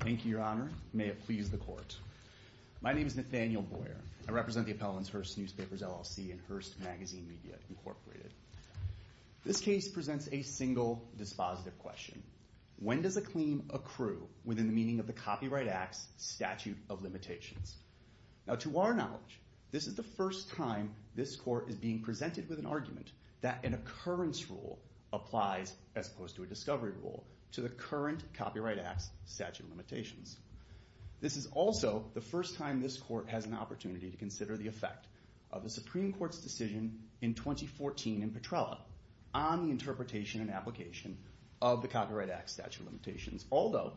Thank you, Your Honor. May it please the Court. My name is Nathaniel Boyer. I represent the appellants Hearst Newspapers, LLC and Hearst Magazine Media, Incorporated. This case presents a single dispositive question. When does a claim accrue within the meaning of the Copyright Act's statute of limitations? Now, to our knowledge, this is the first time this Court with an argument that an occurrence rule applies as opposed to a discovery rule to the current Copyright Act's statute of limitations. This is also the first time this Court has an opportunity to consider the effect of the Supreme Court's decision in 2014 in Petrella on the interpretation and application of the Copyright Act's statute of limitations, although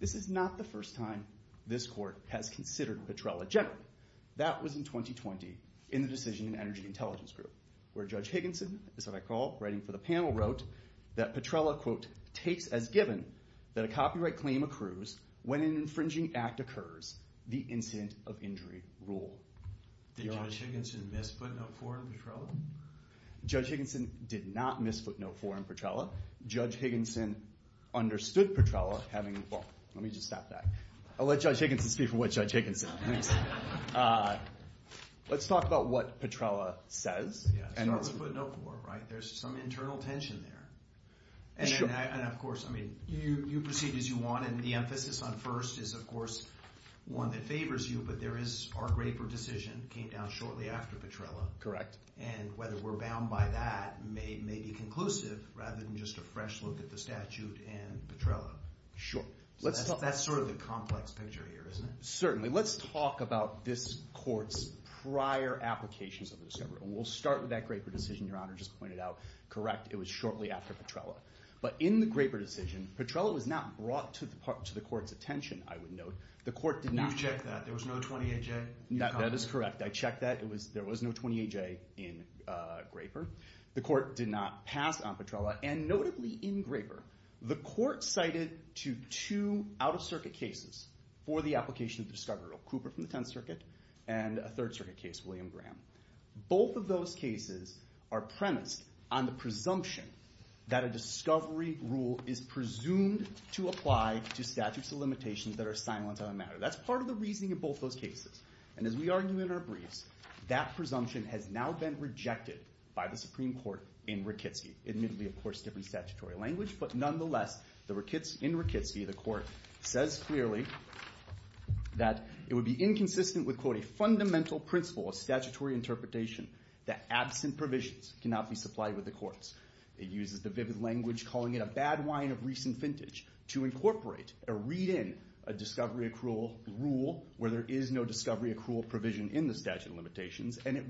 this is not the first time this Court has considered Petrella generally. That was in 2020 in the decision in Energy Intelligence Group, where Judge Higginson, is that what I call, writing for the panel, wrote that Petrella, quote, takes as given that a copyright claim accrues when an infringing act occurs, the incident of injury rule. Did Judge Higginson miss footnote four in Petrella? Judge Higginson did not miss footnote four in Petrella. Judge Higginson understood Petrella having, well, let me just stop that. I'll let Judge Higginson speak for what Judge Higginson thinks. Let's talk about what Petrella says. Yeah. Start with footnote four, right? There's some internal tension there. Sure. And of course, I mean, you proceed as you want, and the emphasis on first is, of course, one that favors you, but there is our Graper decision came down shortly after Petrella. Correct. And whether we're bound by that may be conclusive rather than just a fresh look at the statute and Petrella. Sure. That's sort of the complex picture here, isn't it? Certainly. Let's talk about this court's prior applications of the discovery, and we'll start with that Graper decision Your Honor just pointed out. Correct. It was shortly after Petrella. But in the Graper decision, Petrella was not brought to the court's attention, I would note. The court did not... You've checked that. There was no 28J. That is correct. I checked that. There was no 28J in Graper. The court did not pass on Petrella, and notably in Graper, the court cited to two out-of-circuit cases for the application of discovery. Cooper from the Tenth Circuit, and a Third Circuit case, William Graham. Both of those cases are premised on the presumption that a discovery rule is presumed to apply to statutes of limitations that are silent on the matter. That's part of the reasoning in both those cases. And as we argue in our briefs, that presumption has now been rejected by the Supreme Court in Rakitsky. Admittedly, of statutory language, but nonetheless, in Rakitsky, the court says clearly that it would be inconsistent with, quote, a fundamental principle of statutory interpretation that absent provisions cannot be supplied with the courts. It uses the vivid language, calling it a bad wine of recent vintage, to incorporate, or read in, a discovery accrual rule where there is no discovery accrual provision in the statute of limitations. And it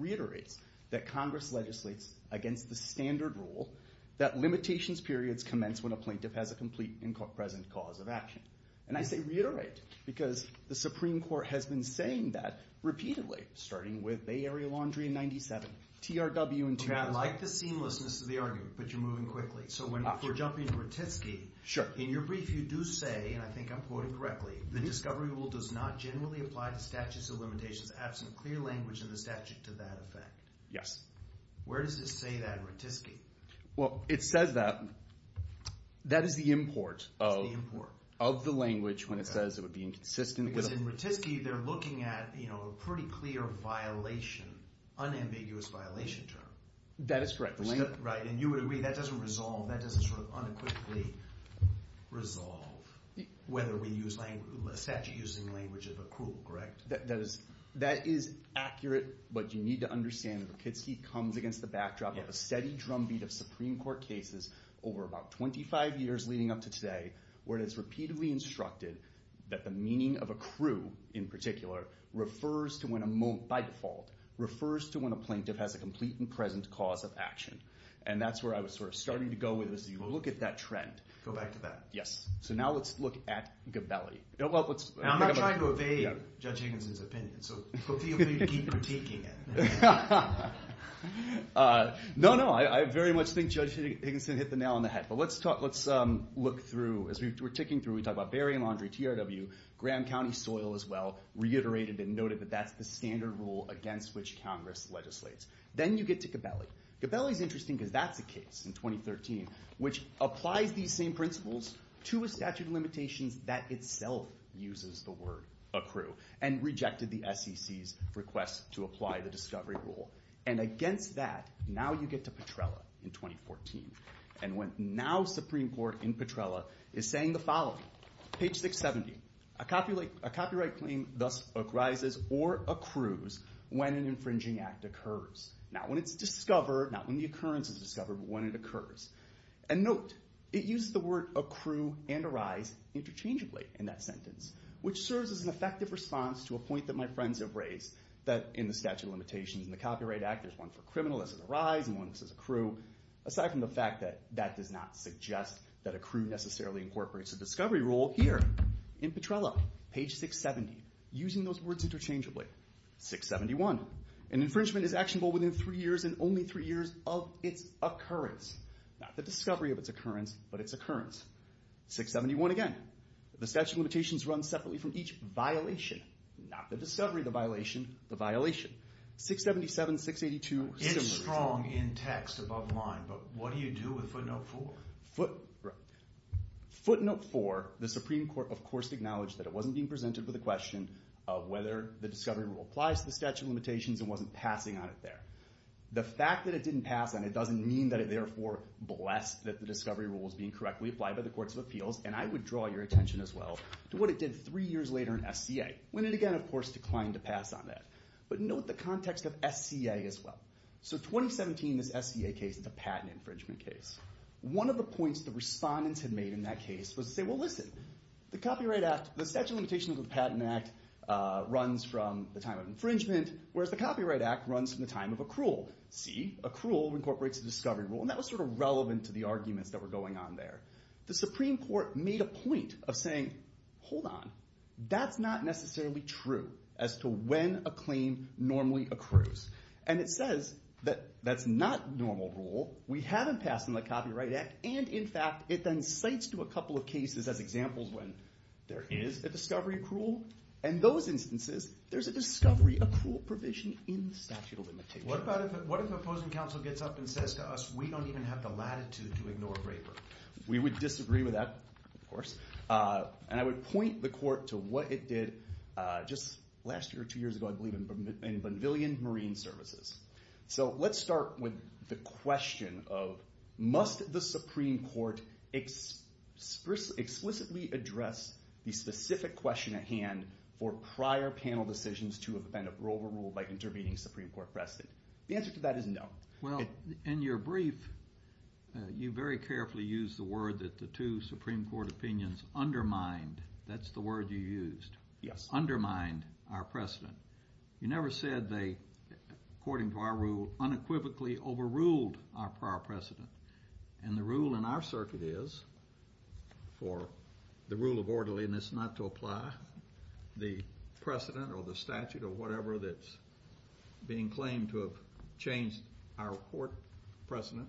a plaintiff has a complete and present cause of action. And I say reiterate, because the Supreme Court has been saying that repeatedly, starting with Bay Area Laundry in 97, TRW in 2000. I like the seamlessness of the argument, but you're moving quickly. So when we're jumping to Rakitsky, in your brief, you do say, and I think I'm quoting correctly, the discovery rule does not generally apply to statutes of limitations, absent clear language in the statute to that effect. Yes. Where does it say that in Rakitsky? Well, it says that. That is the import of the language when it says it would be inconsistent. Because in Rakitsky, they're looking at, you know, a pretty clear violation, unambiguous violation term. That is correct. Right. And you would agree that doesn't resolve, that doesn't sort of unequivocally resolve whether we use language, a statute using language of accrual, correct? That is accurate, but you need to understand that Rakitsky comes against the backdrop of a steady drumbeat of Supreme Court cases over about 25 years leading up to today, where it is repeatedly instructed that the meaning of accrue, in particular, refers to when a, by default, refers to when a plaintiff has a complete and present cause of action. And that's where I was sort of starting to go with this, you will look at that trend. Go back to that. Yes. So now let's look at Gabelli. Now I'm not trying to evade Judge Higginson's opinion, so hopefully you'll keep critiquing it. No, no, I very much think Judge Higginson hit the nail on the head. But let's talk, let's look through, as we were ticking through, we talked about Berry and Laundrie, TRW, Graham County soil as well, reiterated and noted that that's the standard rule against which Congress legislates. Then you get to Gabelli. Gabelli's interesting, because that's a case in 2013, which applies these same principles to a statute of limitations that itself uses the word accrue, and rejected the SEC's request to apply the discovery rule. And against that, now you get to Petrella in 2014. And when now Supreme Court in Petrella is saying the following, page 670, a copyright claim thus arises or accrues when an infringing act occurs. Not when it's discovered, not when the occurrence is discovered, but when it occurs. And note, it uses the word accrue and arise interchangeably in that sentence, which serves as an effective response to a point that my friends have raised, that in the statute of limitations in the Copyright Act, there's one for criminal, this is arise, and one that says accrue. Aside from the fact that that does not suggest that accrue necessarily incorporates a discovery rule here in Petrella, page 670. Using those words interchangeably. 671, an infringement is actionable within three years and only three years of its occurrence. Not the discovery of its occurrence, but its occurrence. 671 again, the statute of limitations runs separately from each violation, not the discovery of the violation, the violation. 677, 682, similar. It's strong in text above line, but what do you do with footnote four? Footnote four, the Supreme Court of course acknowledged that it wasn't being presented with a question of whether the discovery rule applies to the statute of limitations and wasn't passing on it there. The fact that it didn't pass on it doesn't mean that it therefore blessed that the discovery rule was being correctly applied by the courts of appeals. And I would draw your attention as well to what it did three years later in SCA, when it again, of course, declined to pass on that. But note the context of SCA as well. So 2017, this SCA case, the patent infringement case. One of the points the respondents had made in that case was to say, well listen, the copyright act, the statute of limitations of the patent act runs from the time of infringement, whereas the copyright act runs from the time of accrual. See, accrual incorporates the discovery rule, and that was sort of relevant to the arguments that were going on there. The Supreme Court made a point of saying, hold on, that's not necessarily true as to when a claim normally accrues. And it says that that's not normal rule. We haven't passed on the copyright act. And in fact, it then cites to a couple of cases as examples when there is a discovery accrual. In those instances, there's a discovery accrual provision in the statute of limitations. What if opposing counsel gets up and says to us, we don't even have the latitude to ignore a braper? We would disagree with that, of course. And I would point the court to what it did just last year or two years ago, I believe, in Bonvillian Marine Services. So let's start with the question of, must the Supreme Court explicitly address the specific question at hand for prior panel decisions to have been overruled by intervening Supreme Court precedent? The answer to that is no. Well, in your brief, you very carefully used the word that the two Supreme Court opinions undermined. That's the word you used. Yes. Undermined our precedent. You never said they, according to our rule, unequivocally overruled our prior precedent. And the rule in our circuit is, for the rule of orderliness not to apply, the precedent or the statute or whatever that's being claimed to have changed our court precedent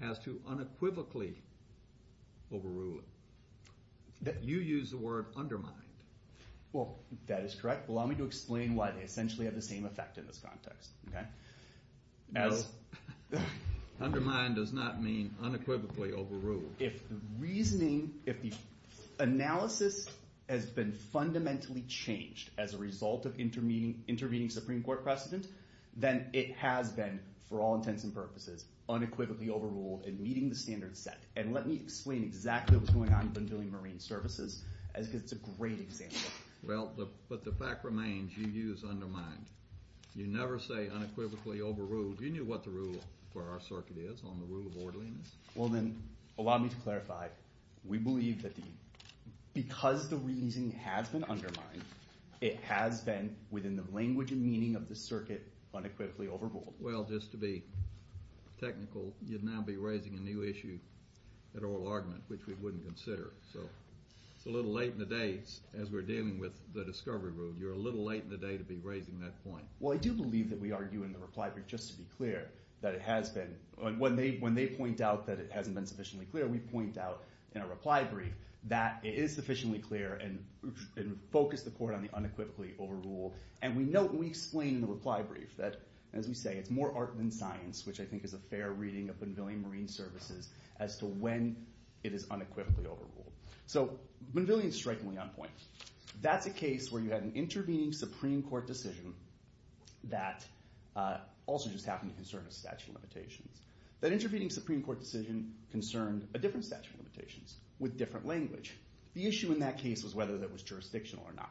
has to unequivocally overrule it. You used the word undermined. Well, that is correct. Allow me to explain why they essentially have the same effect in this context. No. Undermined does not mean unequivocally overruled. If the reasoning, if the analysis has been fundamentally changed as a result of intervening Supreme Court precedent, then it has been, for all intents and purposes, unequivocally overruled in meeting the standard set. And let me explain exactly what's going on in Bonvillian Marine Services, because it's a great example. Well, but the fact remains, you used undermined. You never say unequivocally overruled. You knew what the rule for our circuit is on the rule of orderliness. Well, then, allow me to clarify. We believe that because the reasoning has been undermined, it has been, within the language and meaning of the circuit, unequivocally overruled. Well, just to be technical, you'd now be raising a new issue at oral argument, which we wouldn't consider. So it's a little late in the day, as we're dealing with the discovery road. You're a little late in the day to be raising that point. Well, I do believe that we argue in the reply brief, just to be clear, that it has been. When they point out that it hasn't been sufficiently clear, we point out in a reply brief that it is sufficiently clear and focus the court on the unequivocally overruled. And we note and we explain in the reply brief that, as we say, it's more art than science, which I think is a fair reading of Bonvillian Marine Services as to when it is unequivocally overruled. So Bonvillian is strikingly on point. That's a case where you had an intervening Supreme Court decision that also just happened to concern a statute of limitations. That intervening Supreme Court decision concerned a different statute of limitations with different language. The issue in that case was whether that was jurisdictional or not.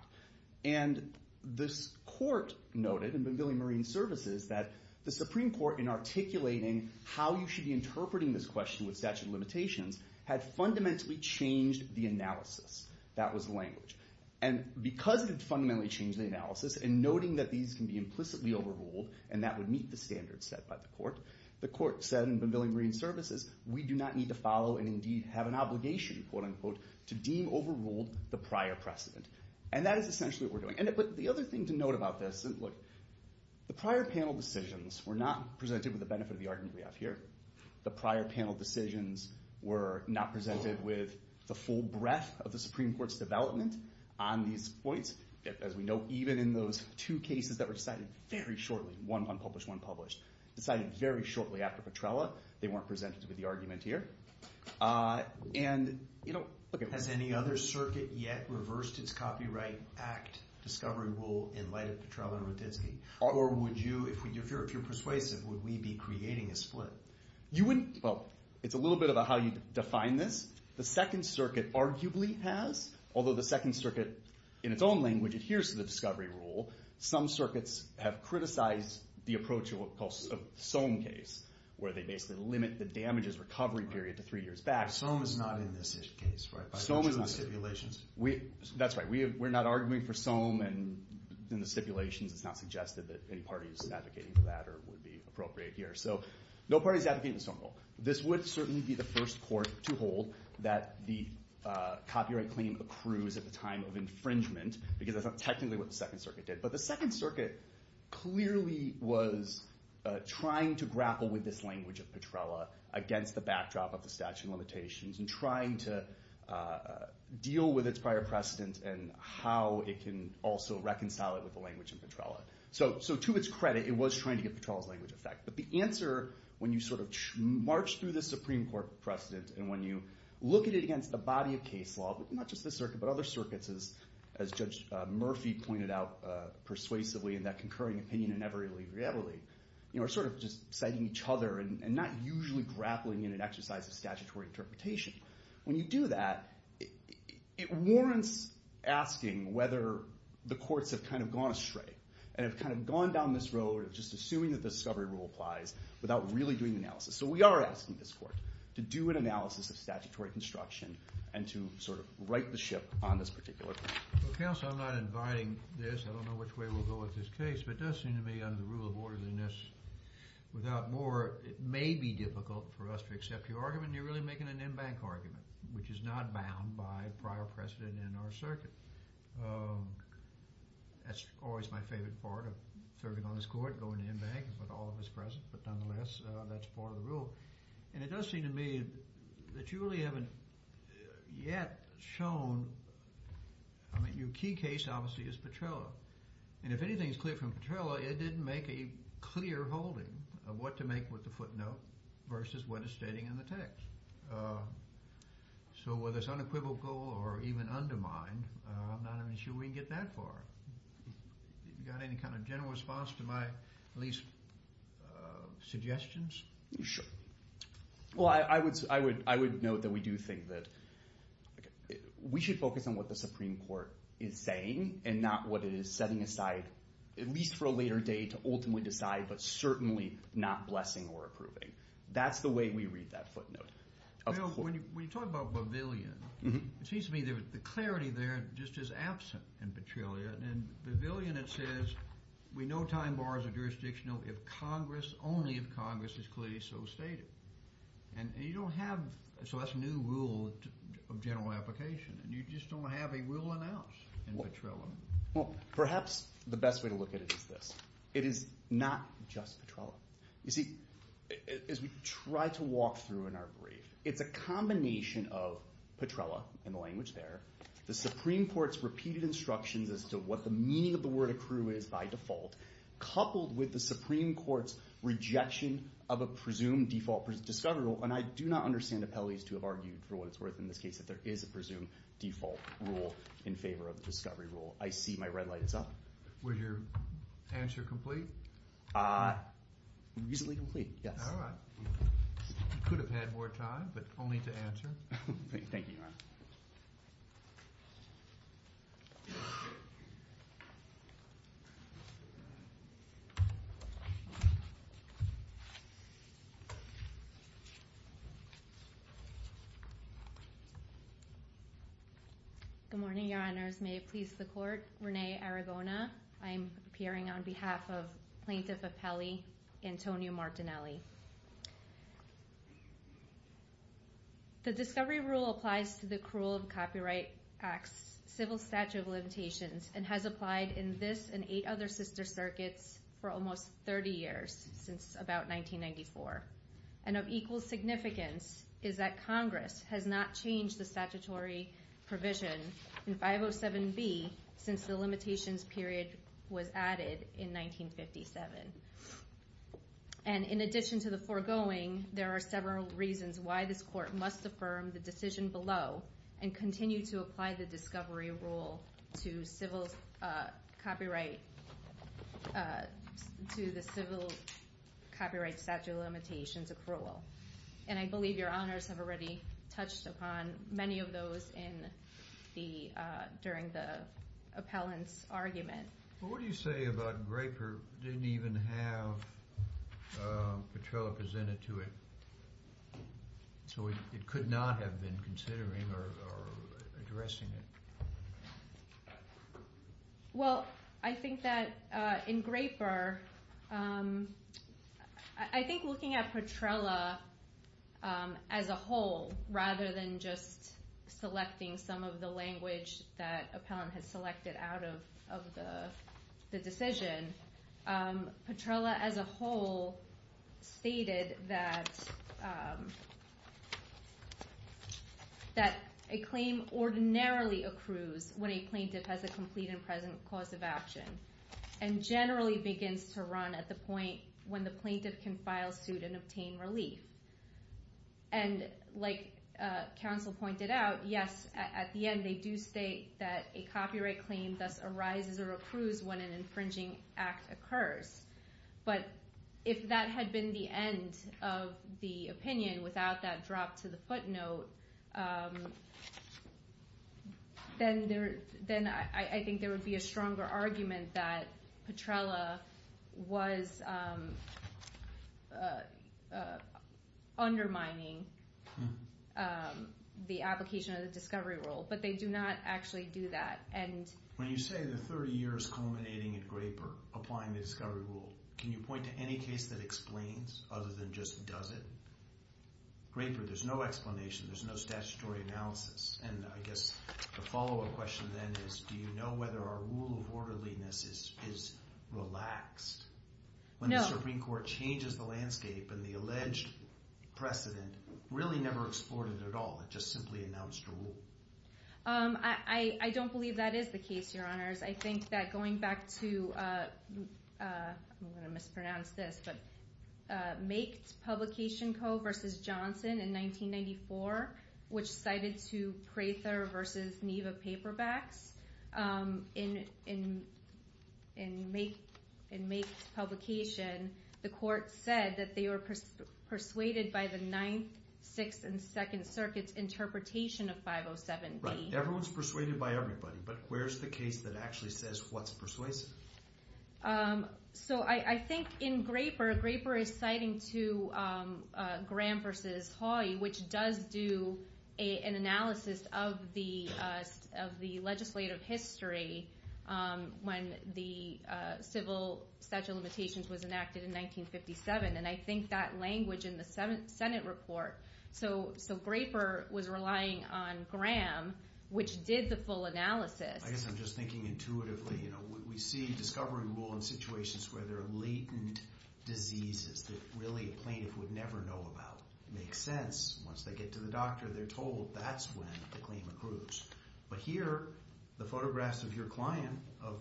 And this court noted in Bonvillian Marine Services that the Supreme Court, in articulating how you should be interpreting this question with statute of limitations, had fundamentally changed the analysis. That was the language. And because it had fundamentally changed the analysis, and noting that these can be implicitly overruled, and that would meet the standards set by the court, the court said in Bonvillian Marine Services, we do not need to follow and indeed have an obligation, quote unquote, to deem overruled the prior precedent. And that is essentially what we're doing. But the other thing to note about this, the prior panel decisions were not presented with the benefit of the argument we have here. The prior panel decisions were not presented with the full breadth of the Supreme Court's development on these points. As we know, even in those two cases that were decided very shortly, one unpublished, one published, decided very shortly after Petrella, they weren't presented with the argument here. And, you know, look at one. Has any other circuit yet reversed its Copyright Act discovery rule in light of Petrella and Rutitsky? Or would you, if you're persuasive, would we be creating a split? You wouldn't, well, it's a little bit about how you define this. The Second Circuit arguably has. Although the Second Circuit, in its own language, adheres to the discovery rule. Some circuits have criticized the approach of what we call a Sohn case, where they basically limit the damages recovery period to three years back. Sohn is not in this case, right? By virtue of stipulations? That's right. We're not arguing for Sohn. And in the stipulations, it's not suggested that any party is advocating for that or would be appropriate here. So no party is advocating the Sohn rule. This would certainly be the first court to hold that the copyright claim accrues at the time of infringement, because that's not technically what the Second Circuit did. But the Second Circuit clearly was trying to grapple with this language of Petrella against the backdrop of the statute of limitations and trying to deal with its prior precedent and how it can also reconcile it with the language of Petrella. So to its credit, it was trying to get Petrella's language effect. But the answer, when you sort of march through the Supreme Court precedent and when you look at it against the body of case law, not just this circuit, but other circuits, as Judge Murphy pointed out persuasively in that concurring opinion in Everly v. Everly, are sort of just citing each other and not usually grappling in an exercise of statutory interpretation. When you do that, it warrants asking whether the courts have kind of gone astray and have kind of gone down this road of just assuming that the discovery rule applies without really doing analysis. So we are asking this court to do an analysis of statutory construction and to sort of right the ship on this particular point. Well, counsel, I'm not inviting this. I don't know which way we'll go with this case. But it does seem to me under the rule of orderliness, without more, it may be difficult for us to accept your argument and you're really making an in-bank argument, which is not bound by prior precedent in our circuit. That's always my favorite part of serving on this court, going to in-bank and put all of us present. But nonetheless, that's part of the rule. And it does seem to me that you really haven't yet shown, I mean, your key case obviously is Petrella. And if anything is clear from Petrella, it didn't make a clear holding of what to make with the footnote versus what is stating in the text. So whether it's unequivocal or even undermined, I'm not even sure we can get that far. You got any kind of general response to my at least suggestions? Sure. Well, I would note that we do think that we should focus on what the Supreme Court is saying and not what it is setting aside, at least for a later date, to ultimately decide, but certainly not blessing or approving. That's the way we read that footnote. When you talk about pavilion, it seems to me the clarity there just is absent in Petrella. In pavilion it says, we know time bars are jurisdictional if Congress, only if Congress is clearly so stated. And you don't have... So that's a new rule of general application and you just don't have a rule announced in Petrella. Well, perhaps the best way to look at it is this. It is not just Petrella. You see, as we try to walk through in our brief, it's a combination of Petrella in the language there, the Supreme Court's repeated instructions as to what the meaning of the word accrue is by default, coupled with the Supreme Court's rejection of a presumed default discovery rule. And I do not understand the penalties to have argued for what it's worth in this case that there is a presumed default rule in favor of the discovery rule. I see my red light is up. Was your answer complete? Uh, reasonably complete, yes. You could have had more time, but only to answer. Thank you, Your Honor. Thank you. Good morning, Your Honors. May it please the Court. Renee Aragona. I'm appearing on behalf of Plaintiff Appelli Antonio Martinelli. The discovery rule applies to the accrual of copyright acts, civil statute of limitations, and has applied in this and eight other sister circuits for almost 30 years, since about 1994. And of equal significance is that Congress has not changed the statutory provision in 507B since the limitations period was added in 1957. And in addition to the foregoing, there are several reasons why this court must affirm the decision below and continue to apply the discovery rule to civil copyright... to the civil copyright statute of limitations accrual. And I believe Your Honors have already touched upon many of those in the... during the appellant's argument. Well, what do you say about Graper didn't even have Petrella presented to it? So it could not have been considering or addressing it. Well, I think that in Graper... I think looking at Petrella as a whole, rather than just selecting some of the language that appellant has selected out of the decision, Petrella as a whole stated that... the plaintiff has a complete and present cause of action and generally begins to run at the point when the plaintiff can file suit and obtain relief. And like counsel pointed out, yes, at the end they do state that a copyright claim thus arises or accrues when an infringing act occurs. But if that had been the end of the opinion without that drop to the footnote, then I think there would be a stronger argument that Petrella was... undermining the application of the discovery rule. But they do not actually do that. When you say the 30 years culminating in Graper applying the discovery rule, can you point to any case that explains other than just does it? Graper, there's no explanation. There's no statutory analysis. And I guess the follow-up question then is do you know whether our rule of orderliness is relaxed? When the Supreme Court changes the landscape and the alleged precedent really never explored it at all. It just simply announced a rule. I don't believe that is the case, Your Honors. I think that going back to... I'm going to mispronounce this, but Maked Publication Co. v. Johnson in 1994, which cited to Prather v. Niva Paperbacks, in Maked's publication, the court said that they were persuaded by the Ninth, Sixth, and Second Circuits interpretation of 507B. Right, everyone's persuaded by everybody, but where's the case that actually says what's persuasive? So I think in Graper, Graper is citing to Graham v. Hawley, which does do an analysis of the legislative history when the Civil Statute of Limitations was enacted in 1957. And I think that language in the Senate report... So Graper was relying on Graham, which did the full analysis. I guess I'm just thinking intuitively. We see discovery rule in situations where there are latent diseases that really a plaintiff would never know about. Makes sense. Once they get to the doctor, they're told that's when the claim accrues. But here, the photographs of your client, of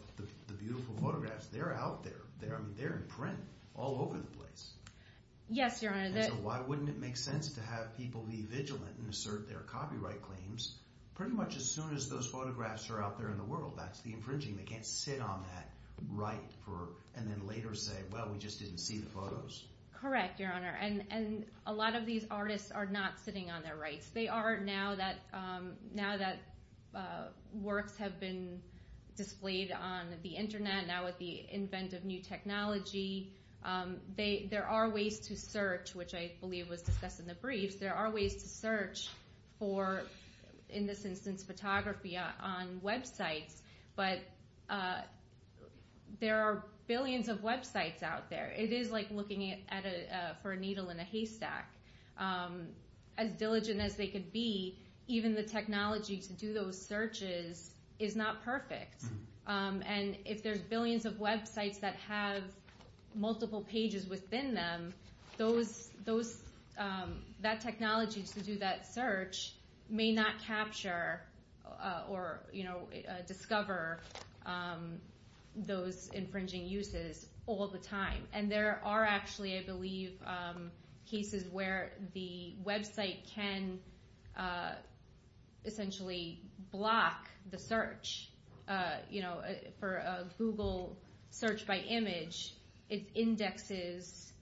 the beautiful photographs, they're out there. I mean, they're in print all over the place. Yes, Your Honor. So why wouldn't it make sense to have people be vigilant and assert their copyright claims pretty much as soon as those photographs are out there in the world? That's the infringing. They can't sit on that right and then later say, well, we just didn't see the photos. Correct, Your Honor. And a lot of these artists are not sitting on their rights. They are now that works have been displayed on the Internet, now with the invent of new technology. There are ways to search, which I believe was discussed in the briefs. There are ways to search for, in this instance, photography on websites. But there are billions of websites out there. It is like looking for a needle in a haystack. As diligent as they could be, even the technology to do those searches is not perfect. And if there's billions of websites that have multiple pages within them, that technology to do that search may not capture or discover those infringing uses all the time. And there are actually, I believe, cases where the website can essentially block the search. For a Google search by image, it indexes,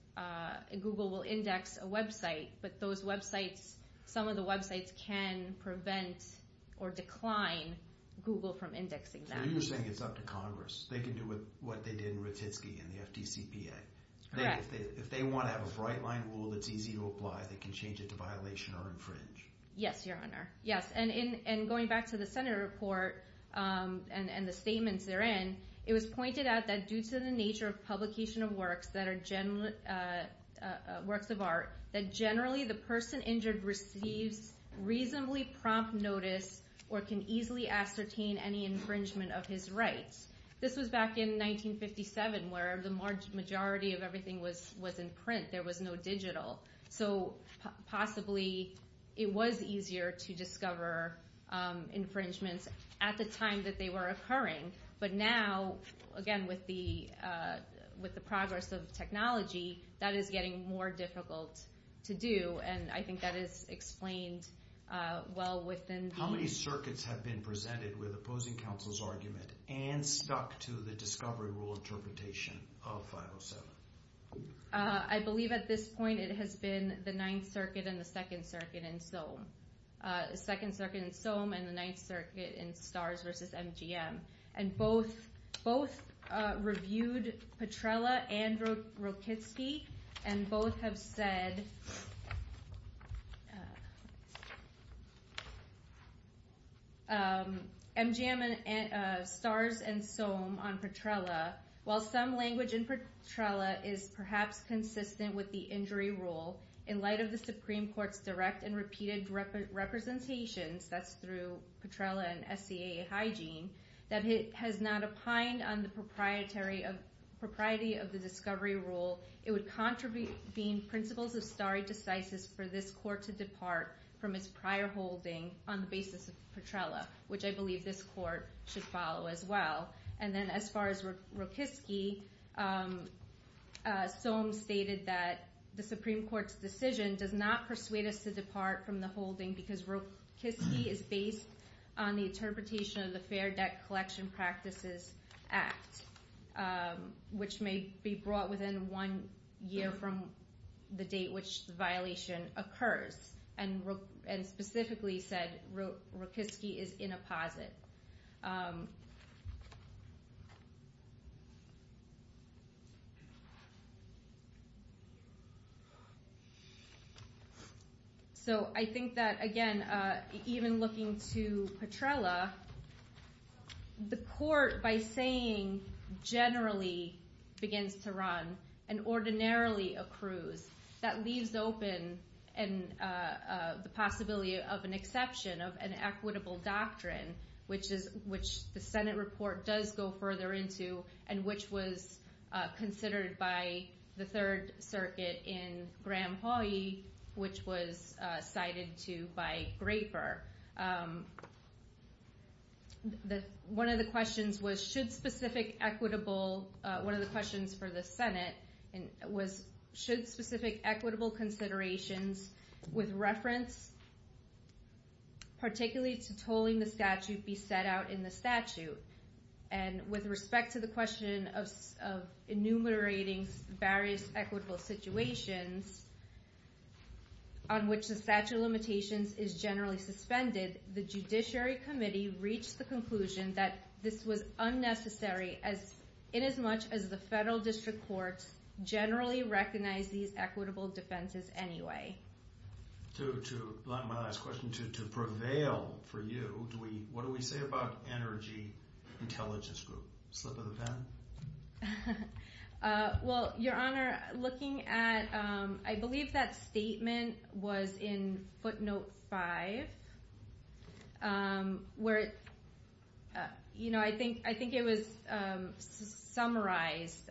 Google will index a website, but those websites, some of the websites, can prevent or decline Google from indexing them. So you're saying it's up to Congress. They can do what they did in Ratitsky and the FDCPA. Correct. If they want to have a right-line rule that's easy to apply, they can change it to violation or infringe. Yes, Your Honor. Yes, and going back to the Senate report and the statements therein, it was pointed out that due to the nature of publication of works that are works of art, that generally the person injured receives reasonably prompt notice or can easily ascertain any infringement of his rights. This was back in 1957 where the majority of everything was in print. There was no digital. So possibly it was easier to discover infringements at the time that they were occurring. But now, again, with the progress of technology, that is getting more difficult to do. And I think that is explained well within the... How many circuits have been presented with opposing counsel's argument and stuck to the discovery rule interpretation of 507? I believe at this point it has been the Ninth Circuit and the Second Circuit in Soam. Second Circuit in Soam and the Ninth Circuit in Stars v. MGM. And both reviewed Petrella and Rokitsky and both have said MGM and Stars and Soam on Petrella. While some language in Petrella is perhaps consistent with the injury rule in light of the Supreme Court's direct and repeated representations that's through Petrella and SCA Hygiene that it has not opined on the propriety of the discovery rule it would contribute being principles of stare decisis for this court to depart from its prior holding on the basis of Petrella which I believe this court should follow as well. And then as far as Rokitsky Soam stated that the Supreme Court's decision does not persuade us to depart from the holding because Rokitsky is based on the interpretation of the Fair Debt Collection Practices Act which may be brought within one year from the date which the violation occurs and specifically said Rokitsky is in a posit. So I think that again even looking to Petrella the court by saying generally begins to run and ordinarily accrues that leaves open the possibility of an exception of an equitable doctrine which the Senate report does go further into and which was considered by the Third Circuit in Graham-Hawyee which was cited to by Graper One of the questions was should specific equitable one of the questions for the Senate was should specific equitable considerations with reference particularly to tolling the statute be set out in the statute and with respect to the question of enumerating various equitable situations on which the statute of limitations is generally suspended the Judiciary Committee reached the conclusion that this was unnecessary in as much as the Federal District Courts generally recognize these equitable defenses anyway. My last question to prevail for you what do we say about Energy Intelligence Group? Slip of the pen? Well, Your Honor looking at I believe that statement was in footnote 5 where I think it was summarized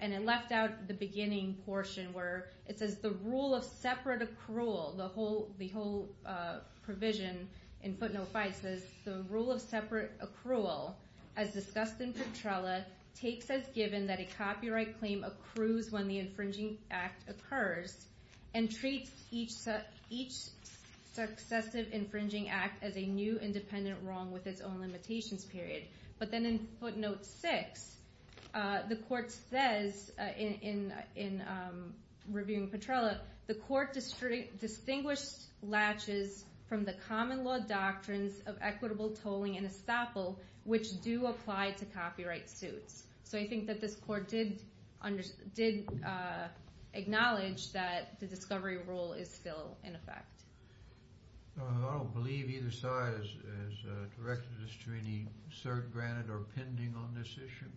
and it left out the beginning portion where it says the rule of separate accrual the whole provision in footnote 5 says the rule of separate accrual as discussed in Petrella takes as given that a copyright claim accrues when the infringing act occurs and treats each successive infringing act as a new independent wrong with its own limitations period but then in footnote 6 the court says in reviewing Petrella the court distinguished latches from the common law doctrines of equitable tolling and estoppel which do apply to copyright suits so I think that this court did acknowledge that the discovery rule is still in effect. I don't believe either side has directed this to any cert granted or pending on this issue.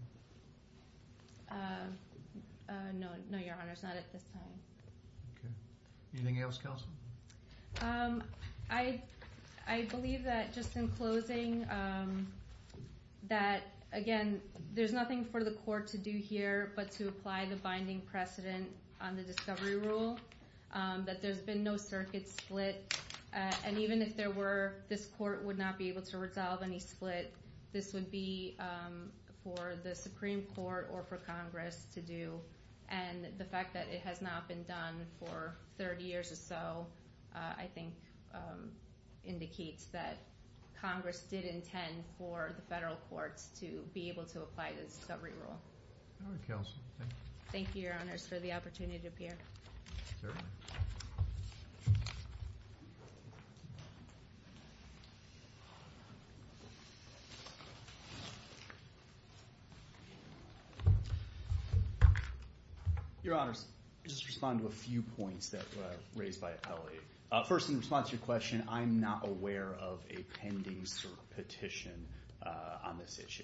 No, Your Honor it's not at this time. Anything else, Counsel? I believe that just in closing that again there's nothing for the court to do here but to apply the binding precedent on the discovery rule that there's been no circuit split and even if there were this court would not be able to resolve any split this would be for the Supreme Court or for Congress to do and the fact that it has not been done for 30 years or so I think indicates that Congress did intend for the federal courts to be able to apply this discovery rule. Alright, Counsel. Thank you, Your Honors for the opportunity to appear. Certainly. Your Honors I'll just respond to a few points that were raised by Appellee. First, in response to your question I'm not aware of a pending cert petition on this issue.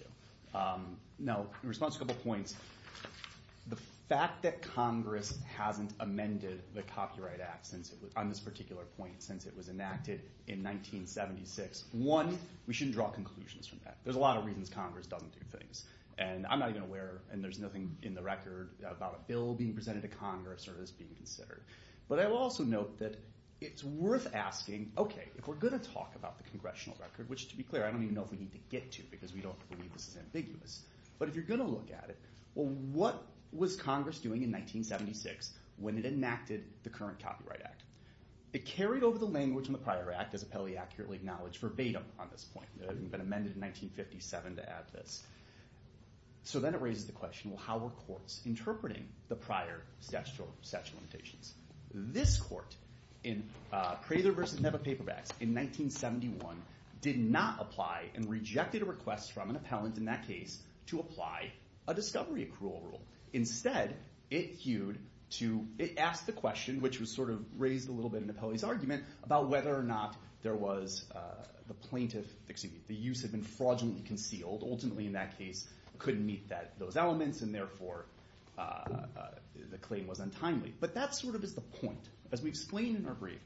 Now, in response to a couple points the fact that Congress hasn't amended the Copyright Act on this particular point since it was enacted in 1976. One, we shouldn't draw conclusions from that. There's a lot of reasons Congress doesn't do things. And I'm not even aware and there's nothing in the record about a bill being presented to Congress or this being considered. But I will also note that it's worth asking okay, if we're going to talk about the Congressional record which to be clear I don't even know if we need to get to because we don't believe this is ambiguous. But if you're going to look at it what was Congress doing in 1976 when it enacted the current Copyright Act? It carried over the language in the prior act as Appellee accurately acknowledged verbatim on this point. It hadn't been amended in 1957 to add this. So then it raises the question how were courts interpreting the prior statute of limitations? This court in Prather v. Nebbe paperbacks in 1971 did not apply and rejected a request from an appellant in that case to apply a discovery accrual rule. Instead it hewed to it asked the question which was sort of raised a little bit in Appellee's argument about whether or not there was the plaintiff excuse me the use had been fraudulently concealed ultimately in that case couldn't meet those elements and therefore the claim was untimely. But that sort of is the point. As we explain in our brief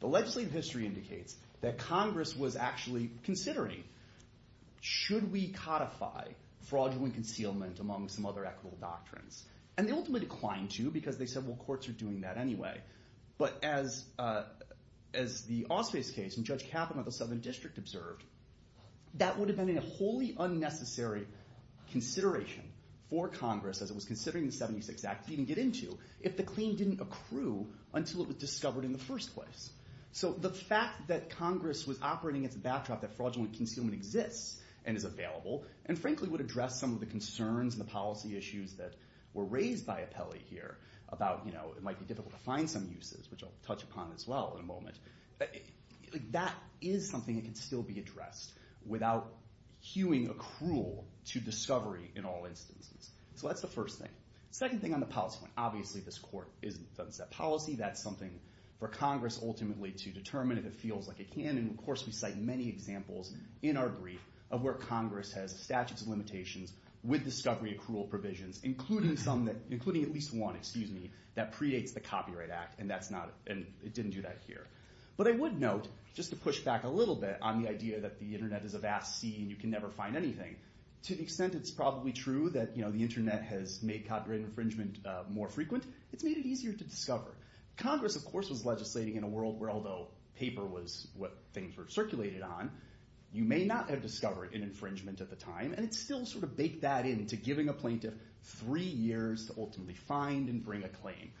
the legislative history indicates that Congress was actually considering should we codify fraudulent concealment among some other equitable doctrines. And they ultimately declined to because they said courts are doing that anyway. But as the Ausface case and Judge Kappen of the Southern District observed that would have been a wholly unnecessary consideration for Congress as it was considering the 76 Act to even get into if the claim didn't accrue until it was discovered in the first place. So the fact that Congress was operating against the backdrop that fraudulent concealment exists and is available and frankly would address some of the concerns and the policy issues that were raised by Apelli here about you know it might be difficult to find some uses which I'll touch upon as well in a moment. That is something that can still be addressed without hewing accrual to discovery in all instances. So that's the first thing. The second thing on the policy point obviously this court doesn't set policy that's something for Congress ultimately to determine if it feels like it can and of course we cite many examples in our brief of where Congress has statutes of limitations with discovery accrual provisions including some including at least one excuse me that pre-dates the Copyright Act and that's not and it didn't do that here. But I would note just to push back a little bit on the idea that the internet is a vast sea and you can never find anything. To the extent it's probably true that you know the internet has made copyright infringement more frequent it's made it easier to discover. Congress of course was legislating in a world where although paper was what things were circulated on you may not have discovered an infringement at the time and it still sort of baked that in to giving a plaintiff three years to ultimately find and bring a claim.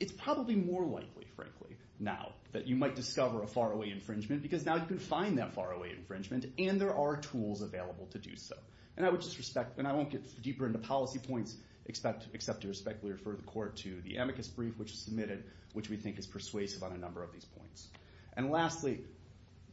It's probably more likely frankly now that you might discover a far away infringement because now you can find that far away infringement and there are tools available to do so. And I would just respect and I won't get deeper into policy points except to respectfully refer the court to the amicus brief which is submitted which we think is persuasive on a number of these points. And lastly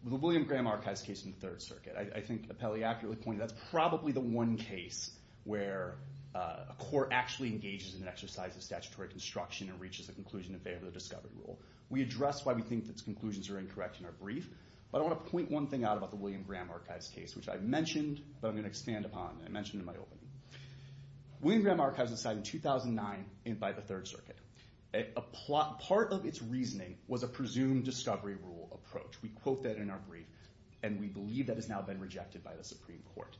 the William Graham Archives case in the Third Circuit I think Appelli accurately pointed that's probably the one case where a court actually engages in an exercise of statutory construction and reaches a conclusion in favor of the discovery rule. We address why we think those conclusions are incorrect in our brief but I want to point one thing out about the William Graham Archives case which I mentioned but I'm going to expand upon and I mentioned in my opening. William Graham Archives was signed in 2009 by the Third Circuit. Part of its reasoning was a presumed discovery rule approach. We quote that in our brief and we believe that has now been rejected by the Supreme Court.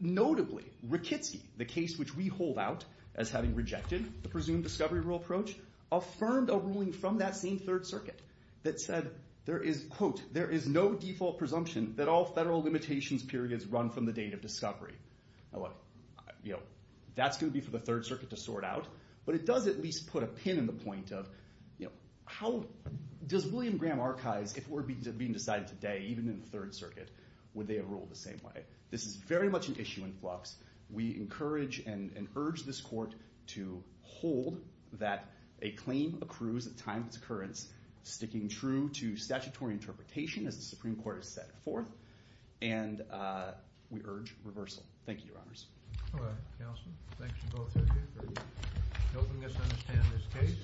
Notably Rakitsky the case which we hold out as having rejected the presumed discovery rule approach affirmed a ruling from that same Third Circuit that said there is quote there is no default presumption that all federal limitations periods run from the date of discovery. Now look that's going to be for the Third Circuit to sort out but it does at least put a pin in the point of how does William Graham Archives if we're being decided today even in the Third Circuit would they have ruled the same way? This is very much an issue in flux. We encourage and urge this court to hold that a claim accrues at time of its occurrence sticking true to statutory interpretation as the Supreme Court has set forth and we urge reversal. Thank you, Your Honors. All right, Counsel. Thanks to both of you for helping us understand this case.